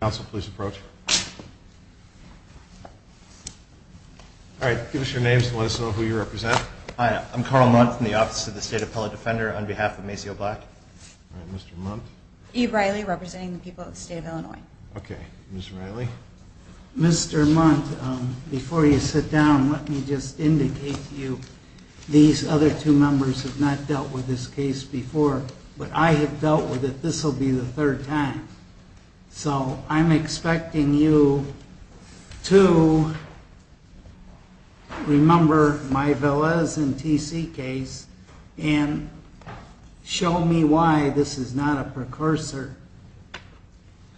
Council, please approach. All right, give us your names and let us know who you represent. Hi, I'm Carl Munt from the Office of the State Appellate Defender on behalf of Maceo Black. All right, Mr. Munt. Eve Reilly, representing the people of the state of Illinois. Okay, Ms. Reilly. Mr. Munt, before you sit down, let me just indicate to you, these other two members have not dealt with this case before, but I have dealt with it. This will be the third time. So I'm expecting you to remember my Velez and TC case and show me why this is not a precursor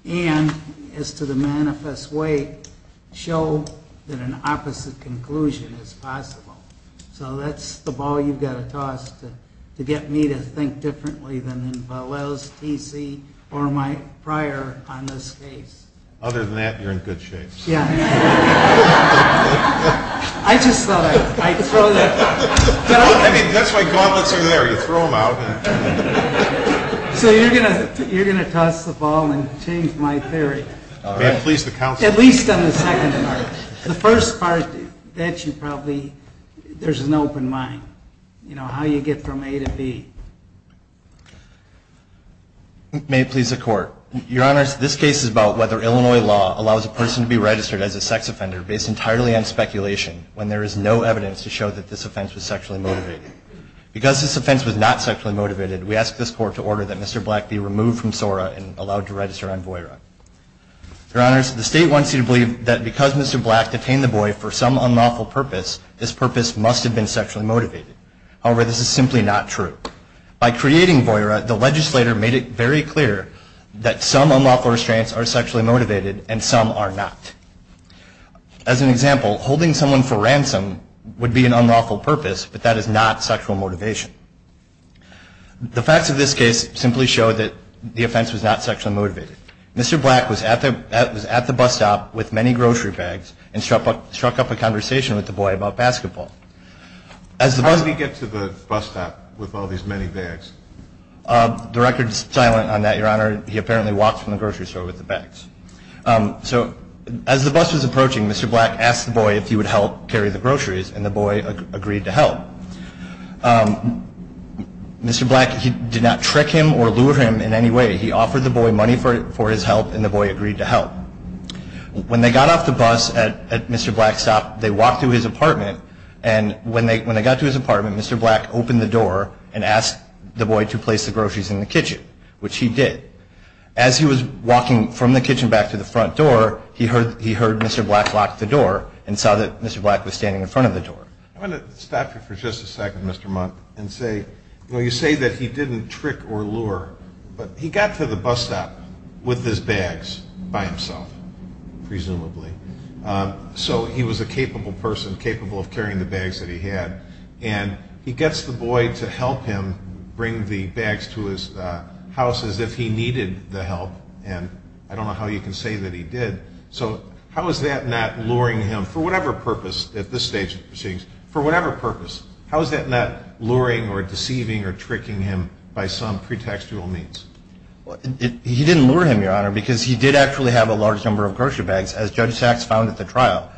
and, as to the manifest way, show that an opposite conclusion is possible. So that's the ball you've got to toss to get me to think differently than in Velez, TC, or my prior on this case. Other than that, you're in good shape. Yeah. I just thought I'd throw that. I mean, that's why gauntlets are there. You throw them out. So you're going to toss the ball and change my theory. May it please the council. At least on the second part. The first part that you probably, there's an open mind. You know, how you get from A to B. May it please the Court. Your Honors, this case is about whether Illinois law allows a person to be registered as a sex offender based entirely on speculation when there is no evidence to show that this offense was sexually motivated. Because this offense was not sexually motivated, we ask this court to order that Mr. Black be removed from SORA and allowed to register on VOIRA. Your Honors, the state wants you to believe that because Mr. Black was sexually motivated, he was able to register on VOIRA. So I'm asking you to remember that. If Mr. Black detained the boy for some unlawful purpose, this purpose must have been sexually motivated. However, this is simply not true. By creating VOIRA, the legislator made it very clear that some unlawful restraints are sexually motivated and some are not. As an example, holding someone for ransom would be an unlawful purpose, but that is not sexual motivation. The facts of this case simply show that the offense was not sexually motivated. Mr. Black was at the bus stop with many grocery bags and struck up a conversation with the boy about basketball. How did he get to the bus stop with all these many bags? The record is silent on that, Your Honor. He apparently walked from the grocery store with the bags. As the bus was approaching, Mr. Black asked the boy if he would help carry the groceries, and the boy agreed to help. Mr. Black did not trick him or lure him in any way. He offered the boy money for his help, and the boy agreed to help. When they got off the bus at Mr. Black's stop, they walked to his apartment, and when they got to his apartment, Mr. Black opened the door and asked the boy to place the groceries in the kitchen, which he did. As he was walking from the kitchen back to the front door, he heard Mr. Black lock the door and saw that Mr. Black was standing in front of the door. I want to stop you for just a second, Mr. Mundt, and say you say that he didn't trick or lure, but he got to the bus stop with his bags by himself, presumably. So he was a capable person, capable of carrying the bags that he had, and he gets the boy to help him bring the bags to his house as if he needed the help, and I don't know how you can say that he did. So how is that not luring him, for whatever purpose at this stage of proceedings, for whatever purpose, how is that not luring or deceiving or tricking him by some pretextual means? He didn't lure him, Your Honor, because he did actually have a large number of grocery bags, as Judge Sachs found at the trial.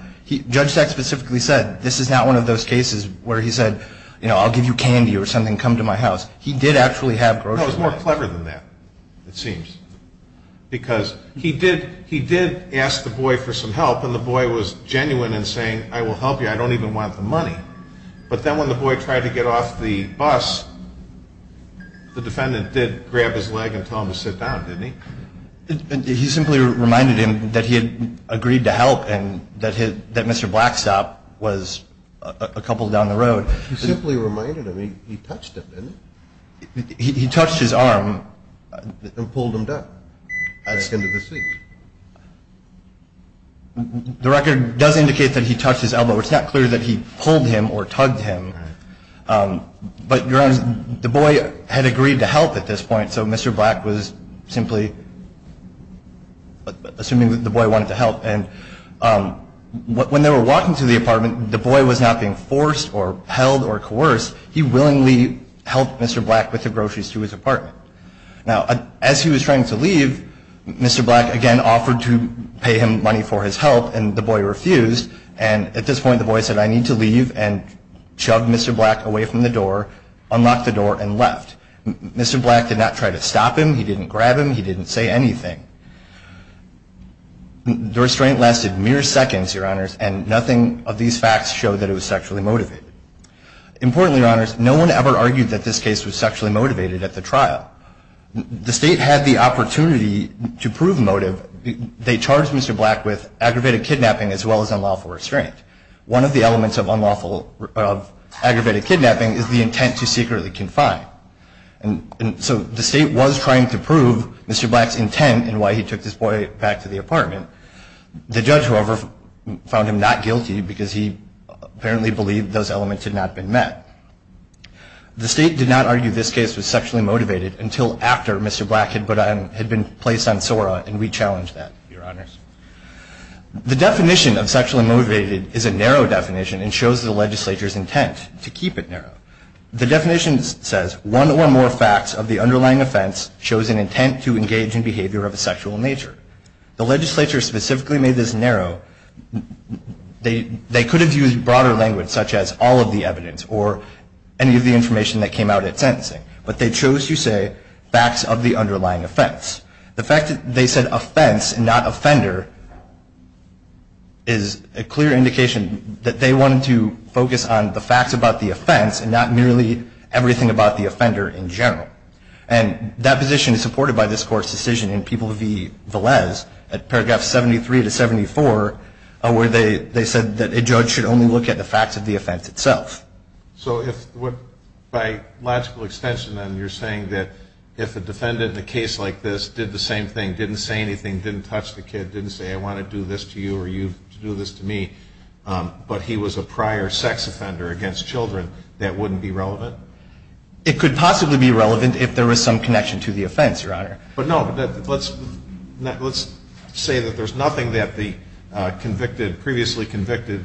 Judge Sachs specifically said, this is not one of those cases where he said, you know, I'll give you candy or something, come to my house. He did actually have grocery bags. No, it was more clever than that, it seems. Because he did ask the boy for some help, and the boy was genuine in saying, I will help you, I don't even want the money. But then when the boy tried to get off the bus, the defendant did grab his leg and tell him to sit down, didn't he? He simply reminded him that he had agreed to help and that Mr. Black's stop was a couple down the road. He simply reminded him, he touched him, didn't he? He touched his arm. And pulled him down. Asked him to speak. The record does indicate that he touched his elbow. It's not clear that he pulled him or tugged him. But, Your Honor, the boy had agreed to help at this point, so Mr. Black was simply assuming that the boy wanted to help. And when they were walking to the apartment, the boy was not being forced or held or coerced. He willingly helped Mr. Black with the groceries to his apartment. Now, as he was trying to leave, Mr. Black again offered to pay him money for his help, and the boy refused. And at this point, the boy said, I need to leave, and shoved Mr. Black away from the door, unlocked the door, and left. Mr. Black did not try to stop him, he didn't grab him, he didn't say anything. The restraint lasted mere seconds, Your Honors, and nothing of these facts showed that it was sexually motivated. Importantly, Your Honors, no one ever argued that this case was sexually motivated at the trial. The State had the opportunity to prove motive. They charged Mr. Black with aggravated kidnapping as well as unlawful restraint. One of the elements of unlawful aggravated kidnapping is the intent to secretly confine. And so the State was trying to prove Mr. Black's intent in why he took this boy back to the apartment. The judge, however, found him not guilty because he apparently believed those elements had not been met. The State did not argue this case was sexually motivated until after Mr. Black had been placed on SORA and re-challenged that, Your Honors. The definition of sexually motivated is a narrow definition and shows the legislature's intent to keep it narrow. The definition says one or more facts of the underlying offense shows an intent to engage in behavior of a sexual nature. The legislature specifically made this narrow. They could have used broader language such as all of the evidence or any of the information that came out at sentencing, but they chose to say facts of the underlying offense. The fact that they said offense and not offender is a clear indication that they wanted to focus on the facts about the offense and not merely everything about the offender in general. And that position is supported by this Court's decision in People v. Velez at paragraph 73 to 74 where they said that a judge should only look at the facts of the offense itself. So if by logical extension then you're saying that if a defendant in a case like this did the same thing, didn't say anything, didn't touch the kid, didn't say I want to do this to you or you do this to me, but he was a prior sex offender against children, that wouldn't be relevant? It could possibly be relevant if there was some connection to the offense, Your Honor. But no, let's say that there's nothing that the previously convicted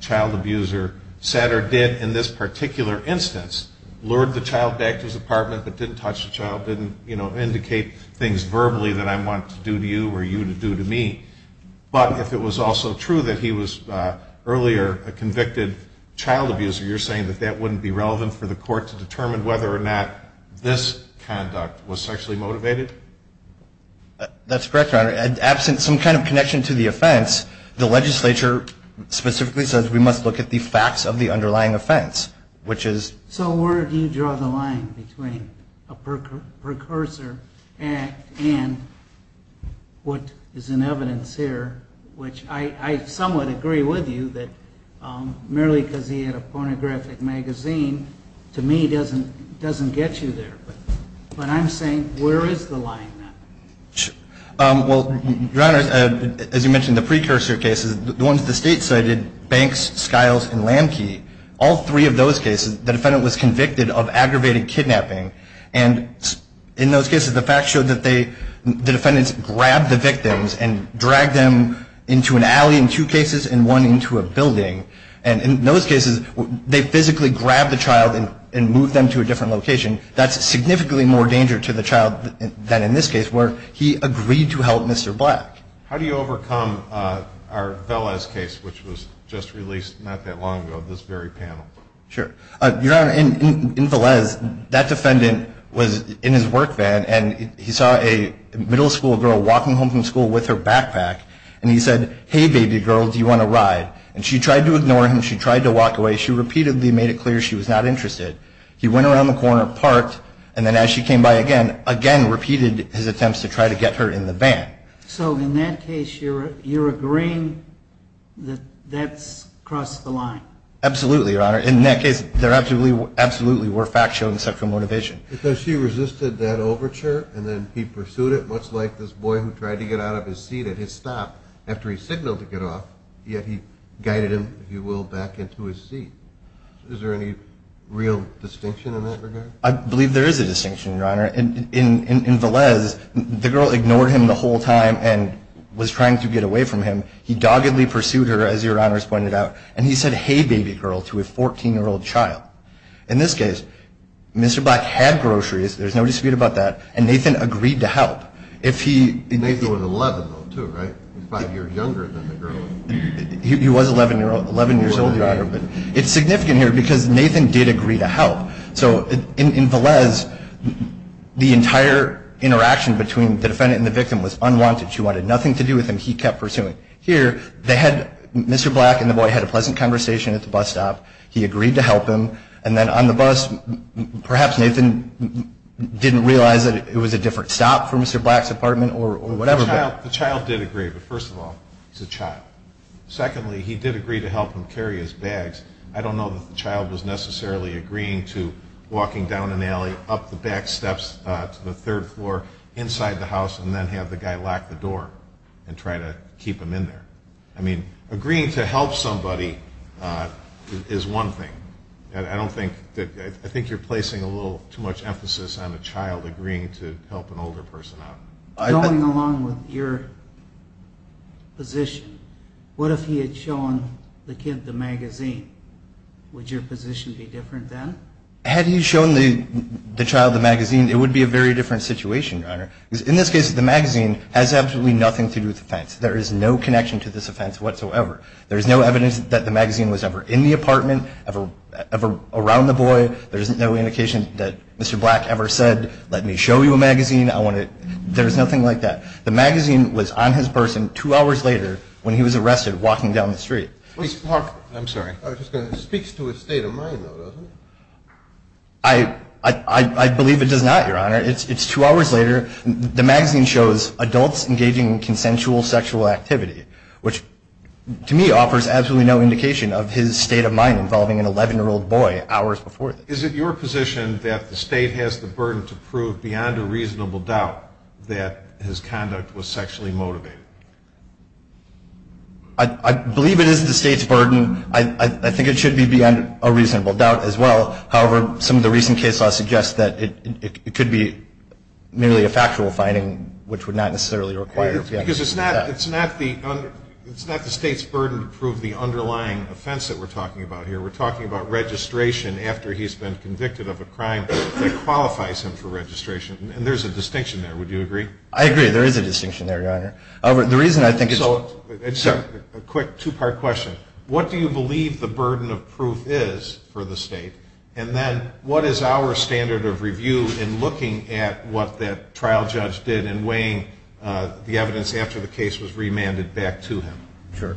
child abuser said or did in this particular instance, lured the child back to his apartment but didn't touch the child, didn't indicate things verbally that I want to do to you or you to do to me. But if it was also true that he was earlier a convicted child abuser, you're saying that that wouldn't be relevant for the Court to determine whether or not this conduct was sexually motivated? That's correct, Your Honor. Absent some kind of connection to the offense, the legislature specifically says we must look at the facts of the underlying offense, which is... So where do you draw the line between a precursor act and what is in evidence here, which I somewhat agree with you that merely because he had a pornographic magazine to me doesn't get you there. But I'm saying where is the line? Well, Your Honor, as you mentioned, the precursor cases, the ones the State cited, Banks, Skiles, and Lamke, all three of those cases, the defendant was convicted of aggravated kidnapping. And in those cases, the facts showed that the defendants grabbed the victims and dragged them into an alley in two cases and one into a building. And in those cases, they physically grabbed the child and moved them to a different location. That's significantly more danger to the child than in this case where he agreed to help Mr. Black. How do you overcome our Velez case, which was just released not that long ago, this very panel? Sure. Your Honor, in Velez, that defendant was in his work van, and he saw a middle school girl walking home from school with her backpack, and he said, hey, baby girl, do you want a ride? And she tried to ignore him. She tried to walk away. She repeatedly made it clear she was not interested. He went around the corner, parked, and then as she came by again, again repeated his attempts to try to get her in the van. So in that case, you're agreeing that that's crossed the line? Absolutely, Your Honor. In that case, there absolutely were facts shown except for motivation. Because she resisted that overture, and then he pursued it, much like this boy who tried to get out of his seat at his stop after he signaled to get off, yet he guided him, if you will, back into his seat. Is there any real distinction in that regard? I believe there is a distinction, Your Honor. In Velez, the girl ignored him the whole time and was trying to get away from him. He doggedly pursued her, as Your Honor has pointed out, and he said, hey, baby girl, to a 14-year-old child. In this case, Mr. Black had groceries, there's no dispute about that, and Nathan agreed to help. Nathan was 11, though, too, right? He's five years younger than the girl. He was 11 years old, Your Honor. It's significant here because Nathan did agree to help. So in Velez, the entire interaction between the defendant and the victim was unwanted. She wanted nothing to do with him. He kept pursuing. Here, Mr. Black and the boy had a pleasant conversation at the bus stop. He agreed to help him. And then on the bus, perhaps Nathan didn't realize that it was a different stop from Mr. Black's apartment or whatever. The child did agree, but first of all, it's a child. Secondly, he did agree to help him carry his bags. I don't know that the child was necessarily agreeing to walking down an alley, up the back steps to the third floor, inside the house, and then have the guy lock the door and try to keep him in there. I mean, agreeing to help somebody is one thing. I think you're placing a little too much emphasis on a child agreeing to help an older person out. Going along with your position, what if he had shown the kid the magazine? Would your position be different then? Had he shown the child the magazine, it would be a very different situation, Your Honor. Because in this case, the magazine has absolutely nothing to do with offense. There is no connection to this offense whatsoever. There is no evidence that the magazine was ever in the apartment, ever around the boy. There is no indication that Mr. Black ever said, let me show you a magazine. There is nothing like that. The magazine was on his person two hours later when he was arrested walking down the street. I'm sorry. It speaks to his state of mind, though, doesn't it? I believe it does not, Your Honor. It's two hours later. The magazine shows adults engaging in consensual sexual activity, which to me offers absolutely no indication of his state of mind involving an 11-year-old boy hours before this. Is it your position that the state has the burden to prove beyond a reasonable doubt that his conduct was sexually motivated? I believe it is the state's burden. I think it should be beyond a reasonable doubt as well. However, some of the recent case law suggests that it could be merely a factual finding, which would not necessarily require a reasonable doubt. It's not the state's burden to prove the underlying offense that we're talking about here. We're talking about registration after he's been convicted of a crime that qualifies him for registration. And there's a distinction there. Would you agree? I agree. There is a distinction there, Your Honor. The reason I think it's – So a quick two-part question. What do you believe the burden of proof is for the state? And then what is our standard of review in looking at what that trial judge did and weighing the evidence after the case was remanded back to him? Sure.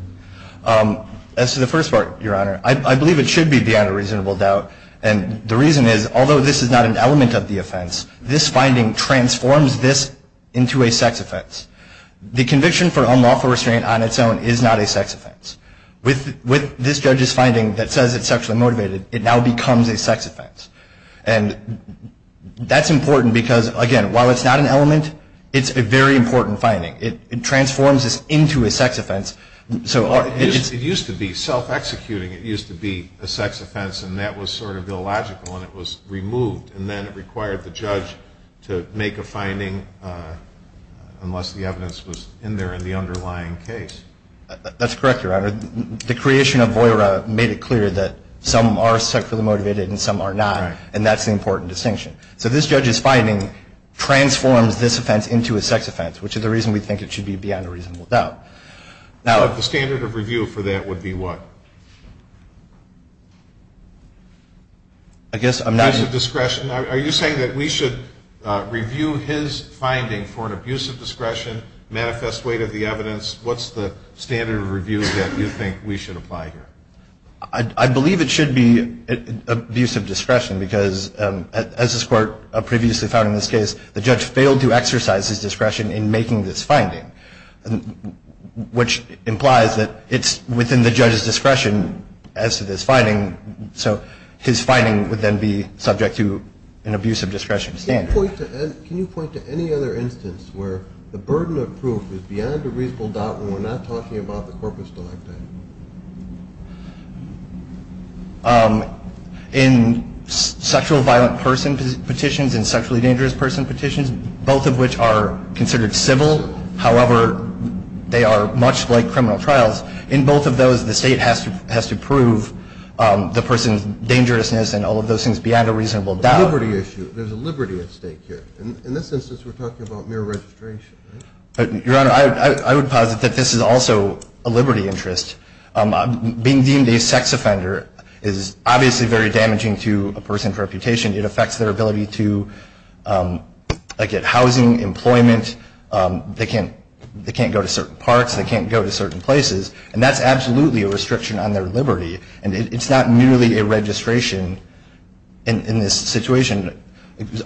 As to the first part, Your Honor, I believe it should be beyond a reasonable doubt. And the reason is, although this is not an element of the offense, this finding transforms this into a sex offense. The conviction for unlawful restraint on its own is not a sex offense. With this judge's finding that says it's sexually motivated, it now becomes a sex offense. And that's important because, again, while it's not an element, it's a very important finding. It transforms this into a sex offense. It used to be self-executing. It used to be a sex offense, and that was sort of illogical, and it was removed. And then it required the judge to make a finding unless the evidence was in there in the underlying case. That's correct, Your Honor. The creation of VOIRA made it clear that some are sexually motivated and some are not, and that's the important distinction. So this judge's finding transforms this offense into a sex offense, which is the reason we think it should be beyond a reasonable doubt. The standard of review for that would be what? Abuse of discretion. Are you saying that we should review his finding for an abuse of discretion, manifest weight of the evidence? What's the standard of review that you think we should apply here? I believe it should be abuse of discretion because, as this Court previously found in this case, which implies that it's within the judge's discretion as to this finding, so his finding would then be subject to an abuse of discretion standard. Can you point to any other instance where the burden of proof is beyond a reasonable doubt when we're not talking about the corpus delicti? In sexual violent person petitions and sexually dangerous person petitions, both of which are considered civil. However, they are much like criminal trials. In both of those, the State has to prove the person's dangerousness and all of those things beyond a reasonable doubt. The liberty issue. There's a liberty at stake here. In this instance, we're talking about mere registration, right? Your Honor, I would posit that this is also a liberty interest. Being deemed a sex offender is obviously very damaging to a person's reputation. It affects their ability to get housing, employment. They can't go to certain parks. They can't go to certain places. And that's absolutely a restriction on their liberty. And it's not merely a registration in this situation.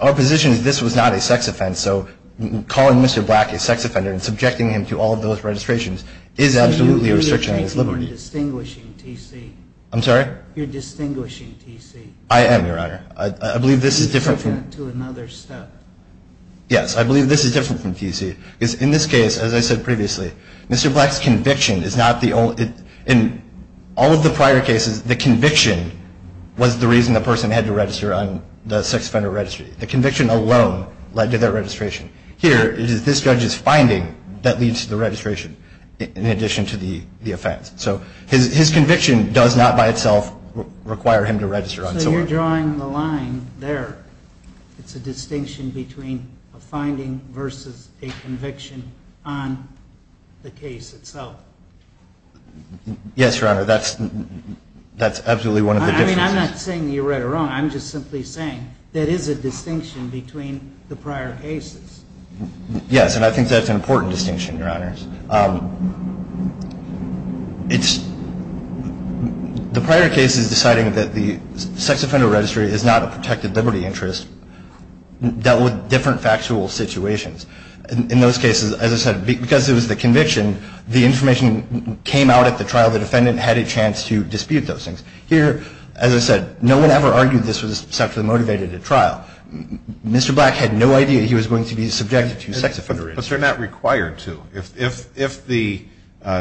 Our position is this was not a sex offense. So calling Mr. Black a sex offender and subjecting him to all of those registrations is absolutely a restriction on his liberty. You're distinguishing T.C. I'm sorry? You're distinguishing T.C. I am, Your Honor. I believe this is different from... You've taken it to another step. Yes. I believe this is different from T.C. Because in this case, as I said previously, Mr. Black's conviction is not the only... In all of the prior cases, the conviction was the reason the person had to register on the sex offender registry. The conviction alone led to their registration. Here, it is this judge's finding that leads to the registration in addition to the offense. So his conviction does not by itself require him to register on... So you're drawing the line there. It's a distinction between a finding versus a conviction on the case itself. Yes, Your Honor. That's absolutely one of the differences. I mean, I'm not saying you're right or wrong. I'm just simply saying there is a distinction between the prior cases. Yes, and I think that's an important distinction, Your Honors. It's... The prior cases deciding that the sex offender registry is not a protected liberty interest dealt with different factual situations. In those cases, as I said, because it was the conviction, the information came out at the trial. The defendant had a chance to dispute those things. Here, as I said, no one ever argued this was sexually motivated at trial. Mr. Black had no idea he was going to be subjected to sex offender registry. But they're not required to. If the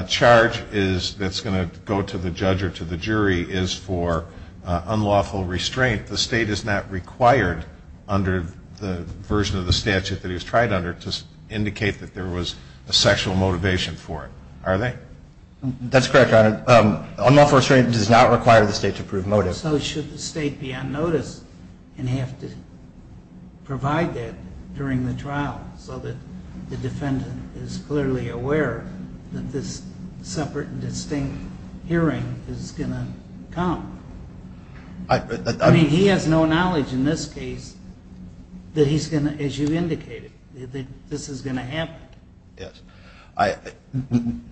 charge that's going to go to the judge or to the jury is for unlawful restraint, the state is not required under the version of the statute that he was tried under to indicate that there was a sexual motivation for it, are they? That's correct, Your Honor. Unlawful restraint does not require the state to prove motive. So should the state be unnoticed and have to provide that during the trial so that the defendant is clearly aware that this separate and distinct hearing is going to come? I mean, he has no knowledge in this case that he's going to, as you indicated, that this is going to happen. Yes.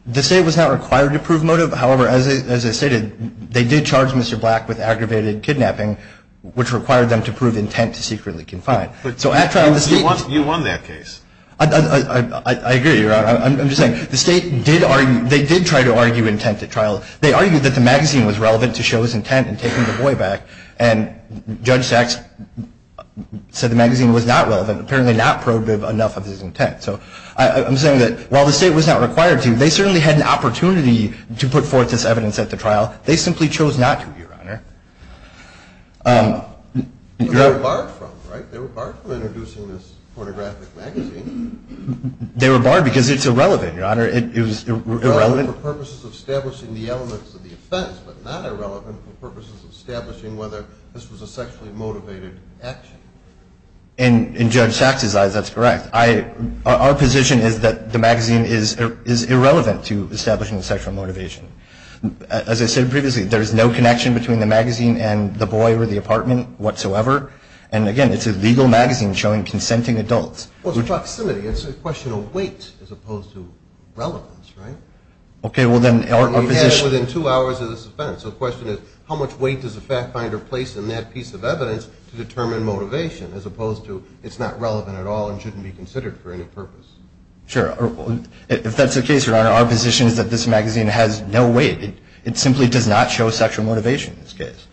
The state was not required to prove motive. However, as I stated, they did charge Mr. Black with aggravated kidnapping, which required them to prove intent to secretly confine. You won that case. I agree, Your Honor. I'm just saying, the state did argue, they did try to argue intent at trial. They argued that the magazine was relevant to show his intent in taking the boy back, and Judge Sachs said the magazine was not relevant, apparently not probative enough of his intent. So I'm saying that while the state was not required to, they certainly had an opportunity to put forth this evidence at the trial. They simply chose not to, Your Honor. They were barred from, right? They were barred from introducing this pornographic magazine. They were barred because it's irrelevant, Your Honor. It was irrelevant. Irrelevant for purposes of establishing the elements of the offense, but not irrelevant for purposes of establishing whether this was a sexually motivated action. In Judge Sachs's eyes, that's correct. Our position is that the magazine is irrelevant to establishing sexual motivation. As I said previously, there is no connection between the magazine and the boy or the apartment whatsoever. And, again, it's a legal magazine showing consenting adults. Well, it's proximity. It's a question of weight as opposed to relevance, right? Okay. Well, then our position – And we had it within two hours of this offense. motivation as opposed to it's not relevant at all and shouldn't be considered for any purpose. Sure. If that's the case, Your Honor, our position is that this magazine has no weight. It simply does not show sexual motivation in this case.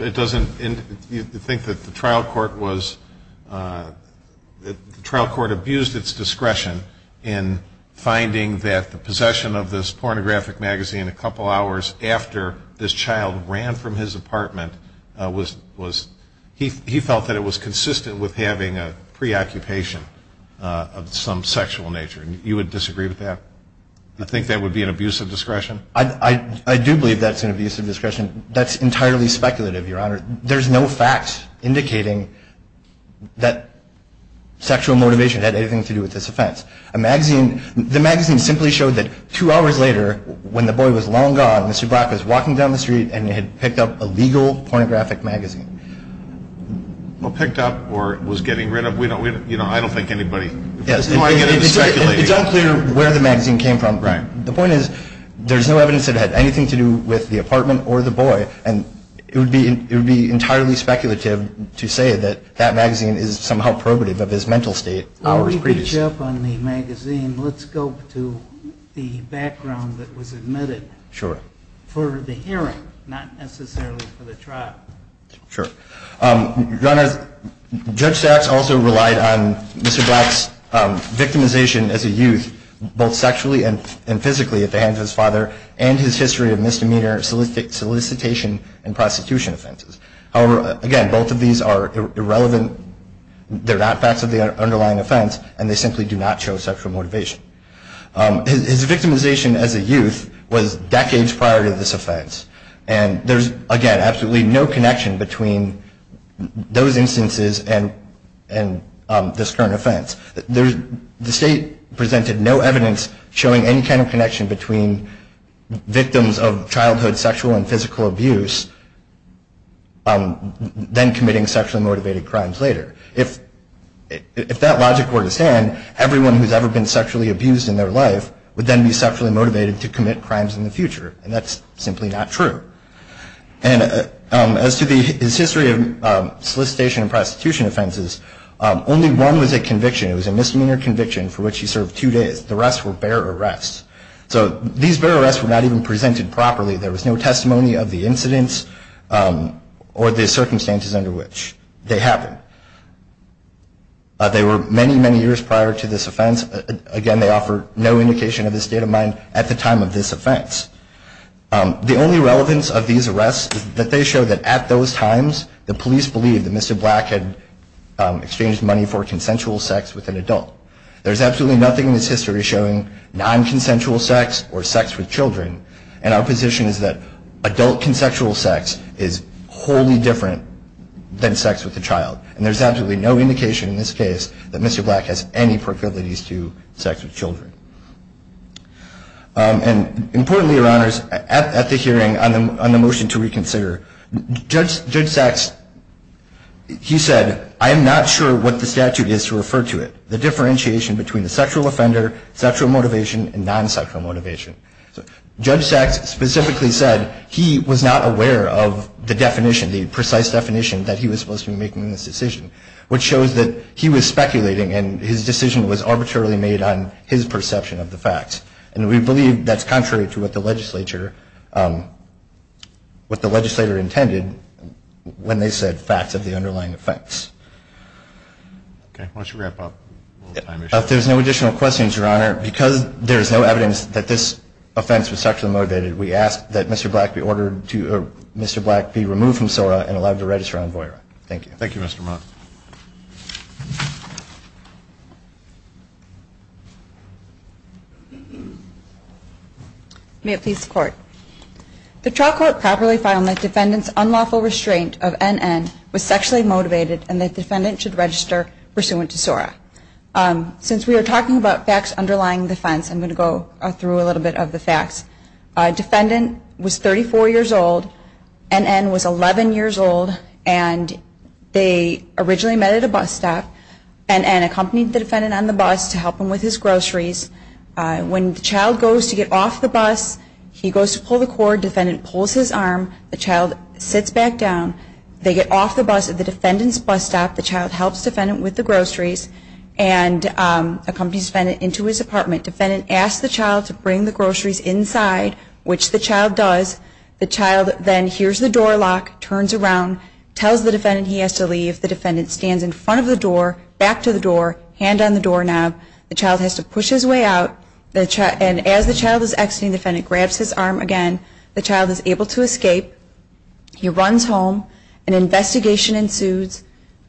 It doesn't – you think that the trial court was – the trial court abused its discretion in finding that the possession of this pornographic magazine a couple hours after this child ran from his apartment was – he felt that it was consistent with having a preoccupation of some sexual nature. You would disagree with that? You think that would be an abuse of discretion? I do believe that's an abuse of discretion. That's entirely speculative, Your Honor. There's no fact indicating that sexual motivation had anything to do with this offense. The magazine simply showed that two hours later, when the boy was long gone, Mr. Brock was walking down the street and had picked up a legal pornographic magazine. Well, picked up or was getting rid of. I don't think anybody – Yes. It's unclear where the magazine came from. Right. The point is, there's no evidence that it had anything to do with the apartment or the boy, and it would be entirely speculative to say that that magazine is somehow probative of his mental state. While we reach up on the magazine, let's go to the background that was admitted. Sure. For the hearing, not necessarily for the trial. Sure. Your Honor, Judge Sachs also relied on Mr. Brock's victimization as a youth, both sexually and physically at the hands of his father, and his history of misdemeanor solicitation and prosecution offenses. However, again, both of these are irrelevant. They're not facts of the underlying offense, and they simply do not show sexual motivation. His victimization as a youth was decades prior to this offense, and there's, again, absolutely no connection between those instances and this current offense. The state presented no evidence showing any kind of connection between victims of childhood sexual and physical abuse then committing sexually motivated crimes later. If that logic were to stand, everyone who's ever been sexually abused in their life would then be sexually motivated to commit crimes in the future, and that's simply not true. And as to his history of solicitation and prosecution offenses, only one was a conviction. It was a misdemeanor conviction for which he served two days. The rest were bare arrests. So these bare arrests were not even presented properly. There was no testimony of the incidents or the circumstances under which they happened. They were many, many years prior to this offense. Again, they offer no indication of his state of mind at the time of this offense. The only relevance of these arrests is that they show that at those times, the police believed that Mr. Black had exchanged money for consensual sex with an adult. There's absolutely nothing in his history showing nonconsensual sex or sex with children, and our position is that adult consensual sex is wholly different than sex with a child. And there's absolutely no indication in this case that Mr. Black has any profilities to sex with children. And importantly, Your Honors, at the hearing on the motion to reconsider, Judge Sacks, he said, I am not sure what the statute is to refer to it, the differentiation between the sexual offender, sexual motivation, and nonsexual motivation. So Judge Sacks specifically said he was not aware of the definition, the precise definition that he was supposed to be making in this decision, which shows that he was speculating and his decision was arbitrarily made on his perception of the facts. And we believe that's contrary to what the legislature intended when they said facts of the underlying offense. Okay, why don't you wrap up? If there's no additional questions, Your Honor, because there is no evidence that this offense was sexually motivated, we ask that Mr. Black be removed from SORA and allowed to register on VOERA. Thank you. Thank you, Mr. Mott. May it please the Court. The trial court properly filed that defendant's unlawful restraint of NN was sexually motivated and that defendant should register pursuant to SORA. Since we are talking about facts underlying defense, I'm going to go through a little bit of the facts. Defendant was 34 years old. NN was 11 years old. And they originally met at a bus stop. NN accompanied the defendant on the bus to help him with his groceries. When the child goes to get off the bus, he goes to pull the cord. Defendant pulls his arm. The child sits back down. They get off the bus at the defendant's bus stop. The child helps defendant with the groceries and accompanies defendant into his apartment. Defendant asks the child to bring the groceries inside, which the child does. The child then hears the door lock, turns around, tells the defendant he has to leave. The defendant stands in front of the door, back to the door, hand on the doorknob. The child has to push his way out. And as the child is exiting, defendant grabs his arm again. The child is able to escape. He runs home. An investigation ensues.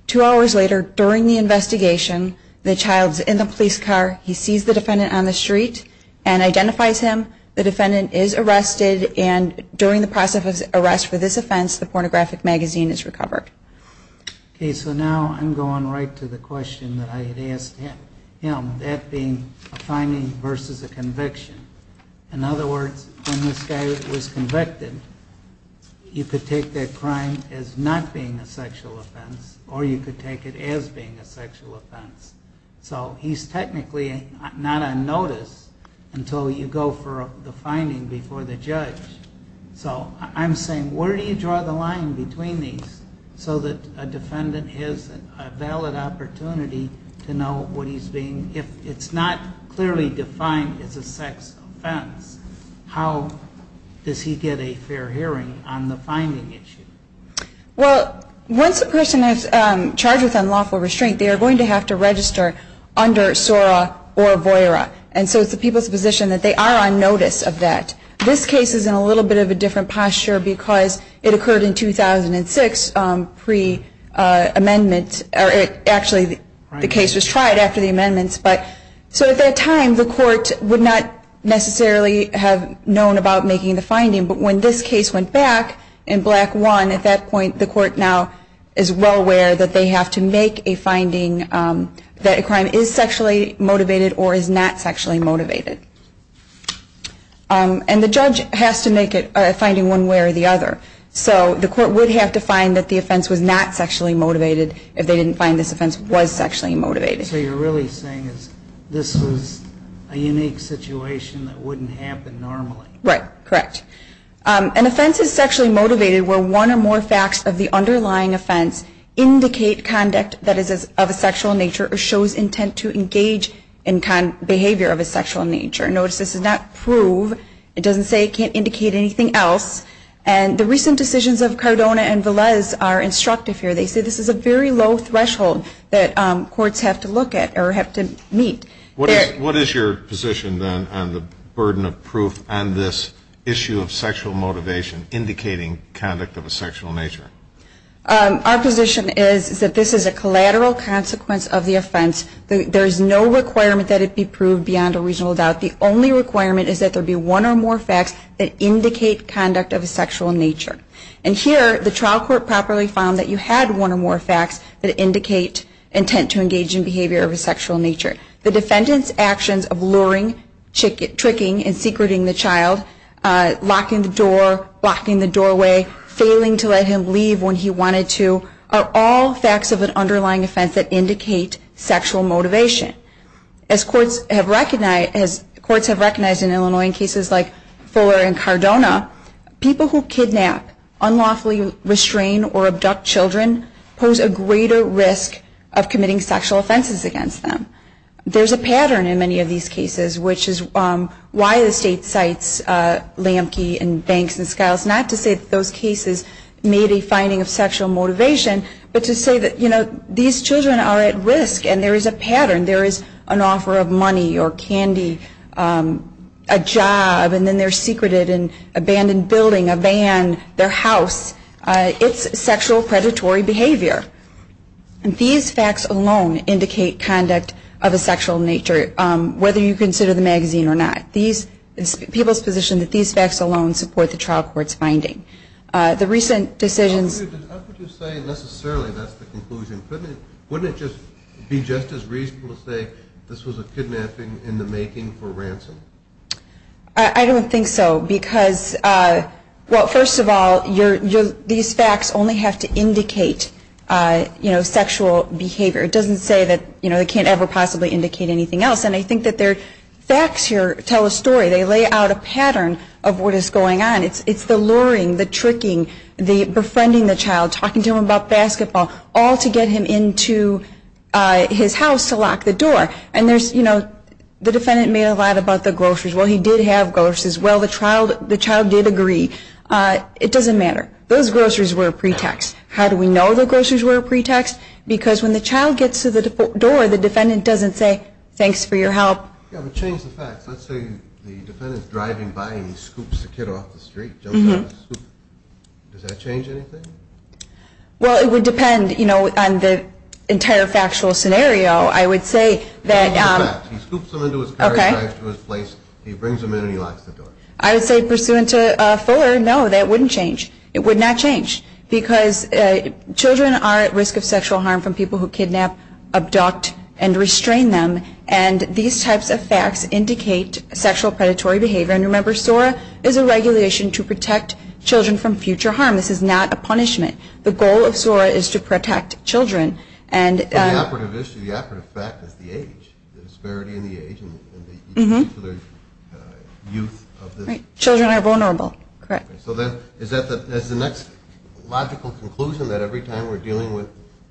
Two hours later, during the investigation, the child is in the police car. He sees the defendant on the street and identifies him. The defendant is arrested. And during the process of arrest for this offense, the pornographic magazine is recovered. Okay, so now I'm going right to the question that I had asked him, that being a finding versus a conviction. In other words, when this guy was convicted, you could take that crime as not being a sexual offense, or you could take it as being a sexual offense. So he's technically not on notice until you go for the finding before the judge. So I'm saying, where do you draw the line between these, so that a defendant has a valid opportunity to know what he's being, if it's not clearly defined as a sex offense, how does he get a fair hearing on the finding issue? Well, once a person is charged with unlawful restraint, they are going to have to register under SORA or VOERA. And so it's the people's position that they are on notice of that. This case is in a little bit of a different posture because it occurred in 2006 pre-amendment. Actually, the case was tried after the amendments. So at that time, the court would not necessarily have known about making the finding. But when this case went back in Black 1, at that point, the court now is well aware that they have to make a finding that a crime is sexually motivated or is not sexually motivated. And the judge has to make a finding one way or the other. So the court would have to find that the offense was not sexually motivated if they didn't find this offense was sexually motivated. So you're really saying this was a unique situation that wouldn't happen normally? Right, correct. An offense is sexually motivated where one or more facts of the underlying offense indicate conduct that is of a sexual nature or shows intent to engage in behavior of a sexual nature. Notice this does not prove, it doesn't say it can't indicate anything else. And the recent decisions of Cardona and Velez are instructive here. They say this is a very low threshold that courts have to look at or have to meet. What is your position then on the burden of proof on this issue of sexual motivation indicating conduct of a sexual nature? Our position is that this is a collateral consequence of the offense. There is no requirement that it be proved beyond a reasonable doubt. The only requirement is that there be one or more facts that indicate conduct of a sexual nature. And here the trial court properly found that you had one or more facts that indicate intent to engage in behavior of a sexual nature. The defendant's actions of luring, tricking, and secreting the child, locking the door, locking the doorway, failing to let him leave when he wanted to are all facts of an underlying offense that indicate sexual motivation. As courts have recognized in Illinois in cases like Fuller and Cardona, people who kidnap, unlawfully restrain, or abduct children pose a greater risk of committing sexual offenses against them. There's a pattern in many of these cases, which is why the state cites Lamke and Banks and Skiles, not to say that those cases made a finding of sexual motivation, but to say that these children are at risk and there is a pattern. There is an offer of money or candy, a job, and then they're secreted in an abandoned building, a van, their house. It's sexual predatory behavior. And these facts alone indicate conduct of a sexual nature, whether you consider the magazine or not. It's people's position that these facts alone support the trial court's finding. The recent decisions- How could you say necessarily that's the conclusion? Wouldn't it just be just as reasonable to say this was a kidnapping in the making for ransom? I don't think so, because, well, first of all, these facts only have to indicate sexual behavior. It doesn't say that they can't ever possibly indicate anything else. And I think that their facts here tell a story. They lay out a pattern of what is going on. It's the luring, the tricking, the befriending the child, talking to him about basketball, all to get him into his house to lock the door. And there's, you know, the defendant made a lot about the groceries. Well, he did have groceries. Well, the child did agree. It doesn't matter. Those groceries were a pretext. How do we know the groceries were a pretext? Because when the child gets to the door, the defendant doesn't say, thanks for your help. Yeah, but change the facts. Let's say the defendant is driving by and he scoops the kid off the street, jumps on his scooter. Does that change anything? Well, it would depend, you know, on the entire factual scenario. I would say that he scoops him into his car, drives to his place, he brings him in, and he locks the door. I would say pursuant to Fuller, no, that wouldn't change. It would not change, because children are at risk of sexual harm from people who kidnap, abduct, and restrain them. And these types of facts indicate sexual predatory behavior. And remember, SORA is a regulation to protect children from future harm. This is not a punishment. The goal of SORA is to protect children. So the operative issue, the operative fact is the age, the disparity in the age and the youth. Children are vulnerable. Correct. So then is that the next logical conclusion, that every time we're dealing with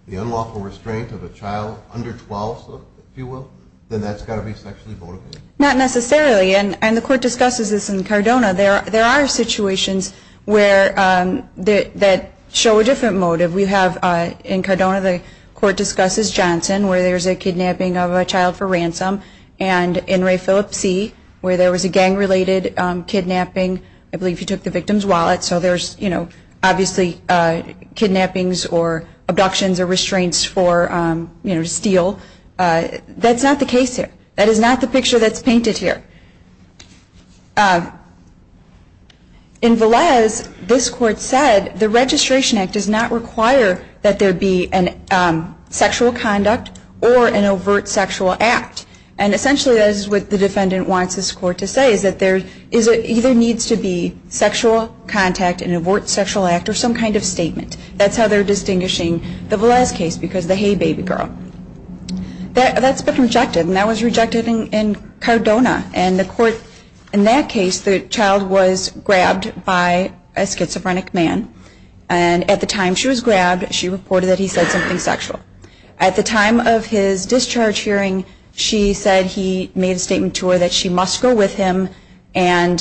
the unlawful restraint of a child under 12, if you will, then that's got to be sexually motivated? Not necessarily. And the court discusses this in Cardona. There are situations that show a different motive. We have in Cardona, the court discusses Johnson, where there's a kidnapping of a child for ransom, and in Ray Phillips C., where there was a gang-related kidnapping. I believe he took the victim's wallet, so there's, you know, obviously kidnappings or abductions or restraints for, you know, steal. That's not the case here. That is not the picture that's painted here. In Velez, this court said the Registration Act does not require that there be a sexual conduct or an overt sexual act. And essentially, that is what the defendant wants this court to say, is that there either needs to be sexual contact, an overt sexual act, or some kind of statement. That's how they're distinguishing the Velez case, because the hey, baby girl. That's been rejected, and that was rejected in Cardona. And the court, in that case, the child was grabbed by a schizophrenic man. And at the time she was grabbed, she reported that he said something sexual. At the time of his discharge hearing, she said he made a statement to her that she must go with him, and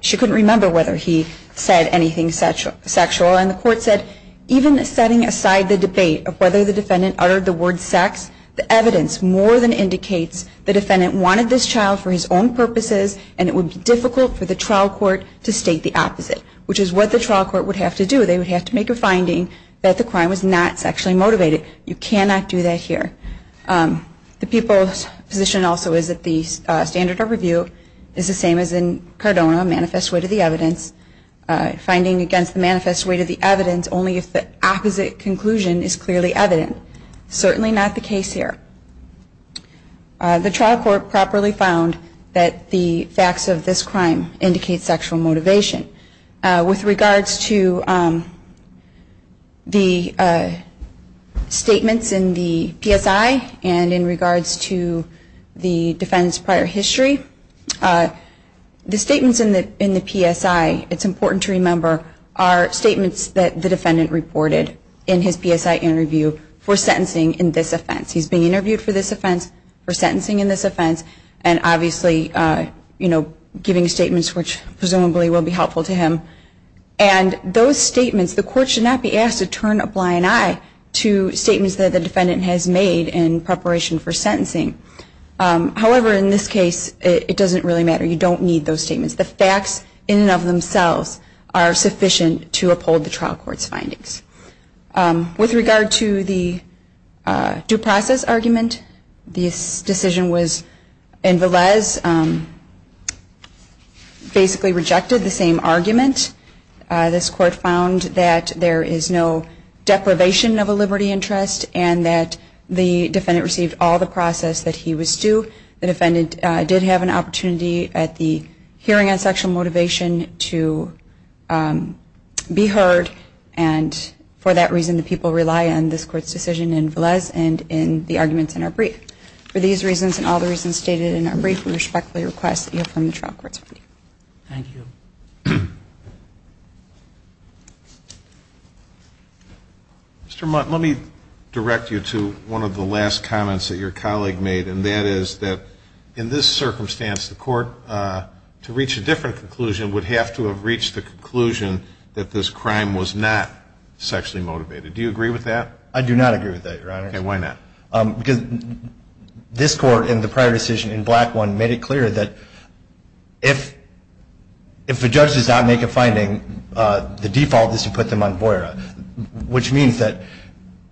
she couldn't remember whether he said anything sexual. And the court said, even setting aside the debate of whether the defendant uttered the word sex, the evidence more than indicates the defendant wanted this child for his own purposes, and it would be difficult for the trial court to state the opposite, which is what the trial court would have to do. They would have to make a finding that the crime was not sexually motivated. You cannot do that here. The people's position also is that the standard of review is the same as in Cardona, a manifest way to the evidence, finding against the manifest way to the evidence, only if the opposite conclusion is clearly evident. Certainly not the case here. The trial court properly found that the facts of this crime indicate sexual motivation. With regards to the statements in the PSI and in regards to the defendant's prior history, the statements in the PSI, it's important to remember, are statements that the defendant reported in his PSI interview for sentencing in this offense. He's been interviewed for this offense, for sentencing in this offense, and obviously giving statements which presumably will be helpful to him. And those statements, the court should not be asked to turn a blind eye to statements that the defendant has made in preparation for sentencing. However, in this case, it doesn't really matter. You don't need those statements. The facts in and of themselves are sufficient to uphold the trial court's findings. With regard to the due process argument, this decision was in Valese, basically rejected the same argument. This court found that there is no deprivation of a liberty interest and that the defendant received all the process that he was due. The defendant did have an opportunity at the hearing on sexual motivation to be heard, and for that reason the people rely on this court's decision in Valese and in the arguments in our brief. For these reasons and all the reasons stated in our brief, we respectfully request that you affirm the trial court's finding. Thank you. Mr. Mott, let me direct you to one of the last comments that your colleague made, and that is that in this circumstance, the court, to reach a different conclusion, would have to have reached the conclusion that this crime was not sexually motivated. Do you agree with that? I do not agree with that, Your Honor. Okay, why not? Because this court in the prior decision, in Black 1, made it clear that if a judge does not make a finding, the default is to put them on BOERA, which means that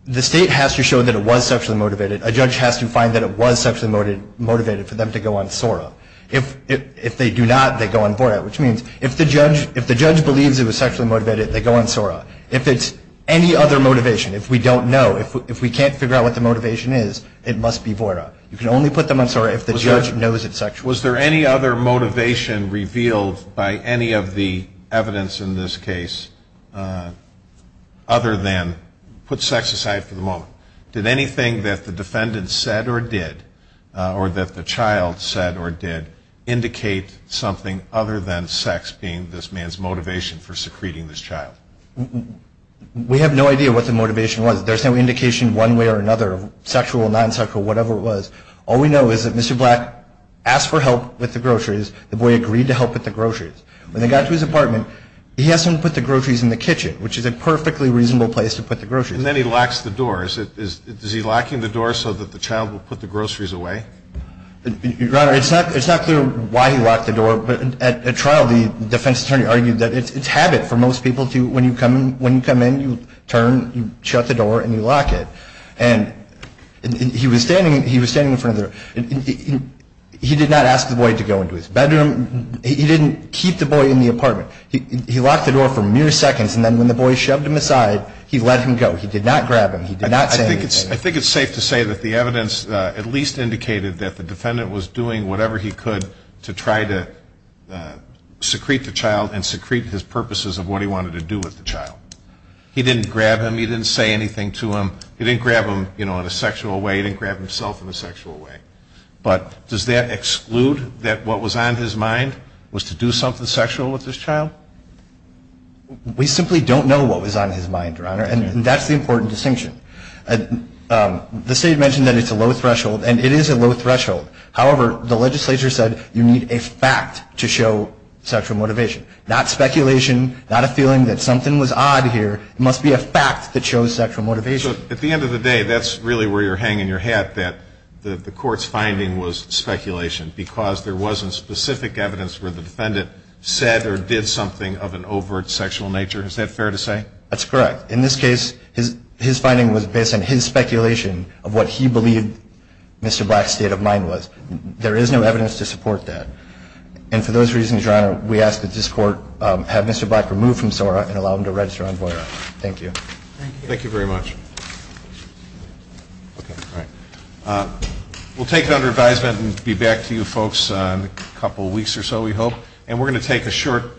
the state has to show that it was sexually motivated. A judge has to find that it was sexually motivated for them to go on SOERA. If they do not, they go on BOERA, which means if the judge believes it was sexually motivated, they go on SOERA. If it's any other motivation, if we don't know, if we can't figure out what the motivation is, it must be BOERA. You can only put them on SOERA if the judge knows it's sexual. Was there any other motivation revealed by any of the evidence in this case other than put sex aside for the moment? Did anything that the defendant said or did, or that the child said or did, indicate something other than sex being this man's motivation for secreting this child? We have no idea what the motivation was. There's no indication one way or another of sexual, non-sexual, whatever it was. All we know is that Mr. Black asked for help with the groceries. The boy agreed to help with the groceries. When they got to his apartment, he asked him to put the groceries in the kitchen, which is a perfectly reasonable place to put the groceries. And then he locks the door. Is he locking the door so that the child will put the groceries away? Your Honor, it's not clear why he locked the door. But at trial, the defense attorney argued that it's habit for most people to, when you come in, you turn, you shut the door, and you lock it. And he was standing in front of the door. He did not ask the boy to go into his bedroom. He didn't keep the boy in the apartment. He locked the door for mere seconds, and then when the boy shoved him aside, he let him go. He did not grab him. He did not say anything. I think it's safe to say that the evidence at least indicated that the defendant was doing whatever he could to try to secrete the child and secrete his purposes of what he wanted to do with the child. He didn't grab him. He didn't say anything to him. He didn't grab him, you know, in a sexual way. He didn't grab himself in a sexual way. But does that exclude that what was on his mind was to do something sexual with this child? We simply don't know what was on his mind, Your Honor. And that's the important distinction. The State mentioned that it's a low threshold, and it is a low threshold. However, the legislature said you need a fact to show sexual motivation, not speculation, not a feeling that something was odd here. It must be a fact that shows sexual motivation. So at the end of the day, that's really where you're hanging your hat, that the Court's finding was speculation because there wasn't specific evidence where the defendant said or did something of an overt sexual nature. Is that fair to say? That's correct. In this case, his finding was based on his speculation of what he believed Mr. Black's state of mind was. There is no evidence to support that. And for those reasons, Your Honor, we ask that this Court have Mr. Black removed from SORA and allow him to register on VOIRA. Thank you. Thank you very much. We'll take it under advisement and be back to you folks in a couple weeks or so, we hope. And we're going to take a short break.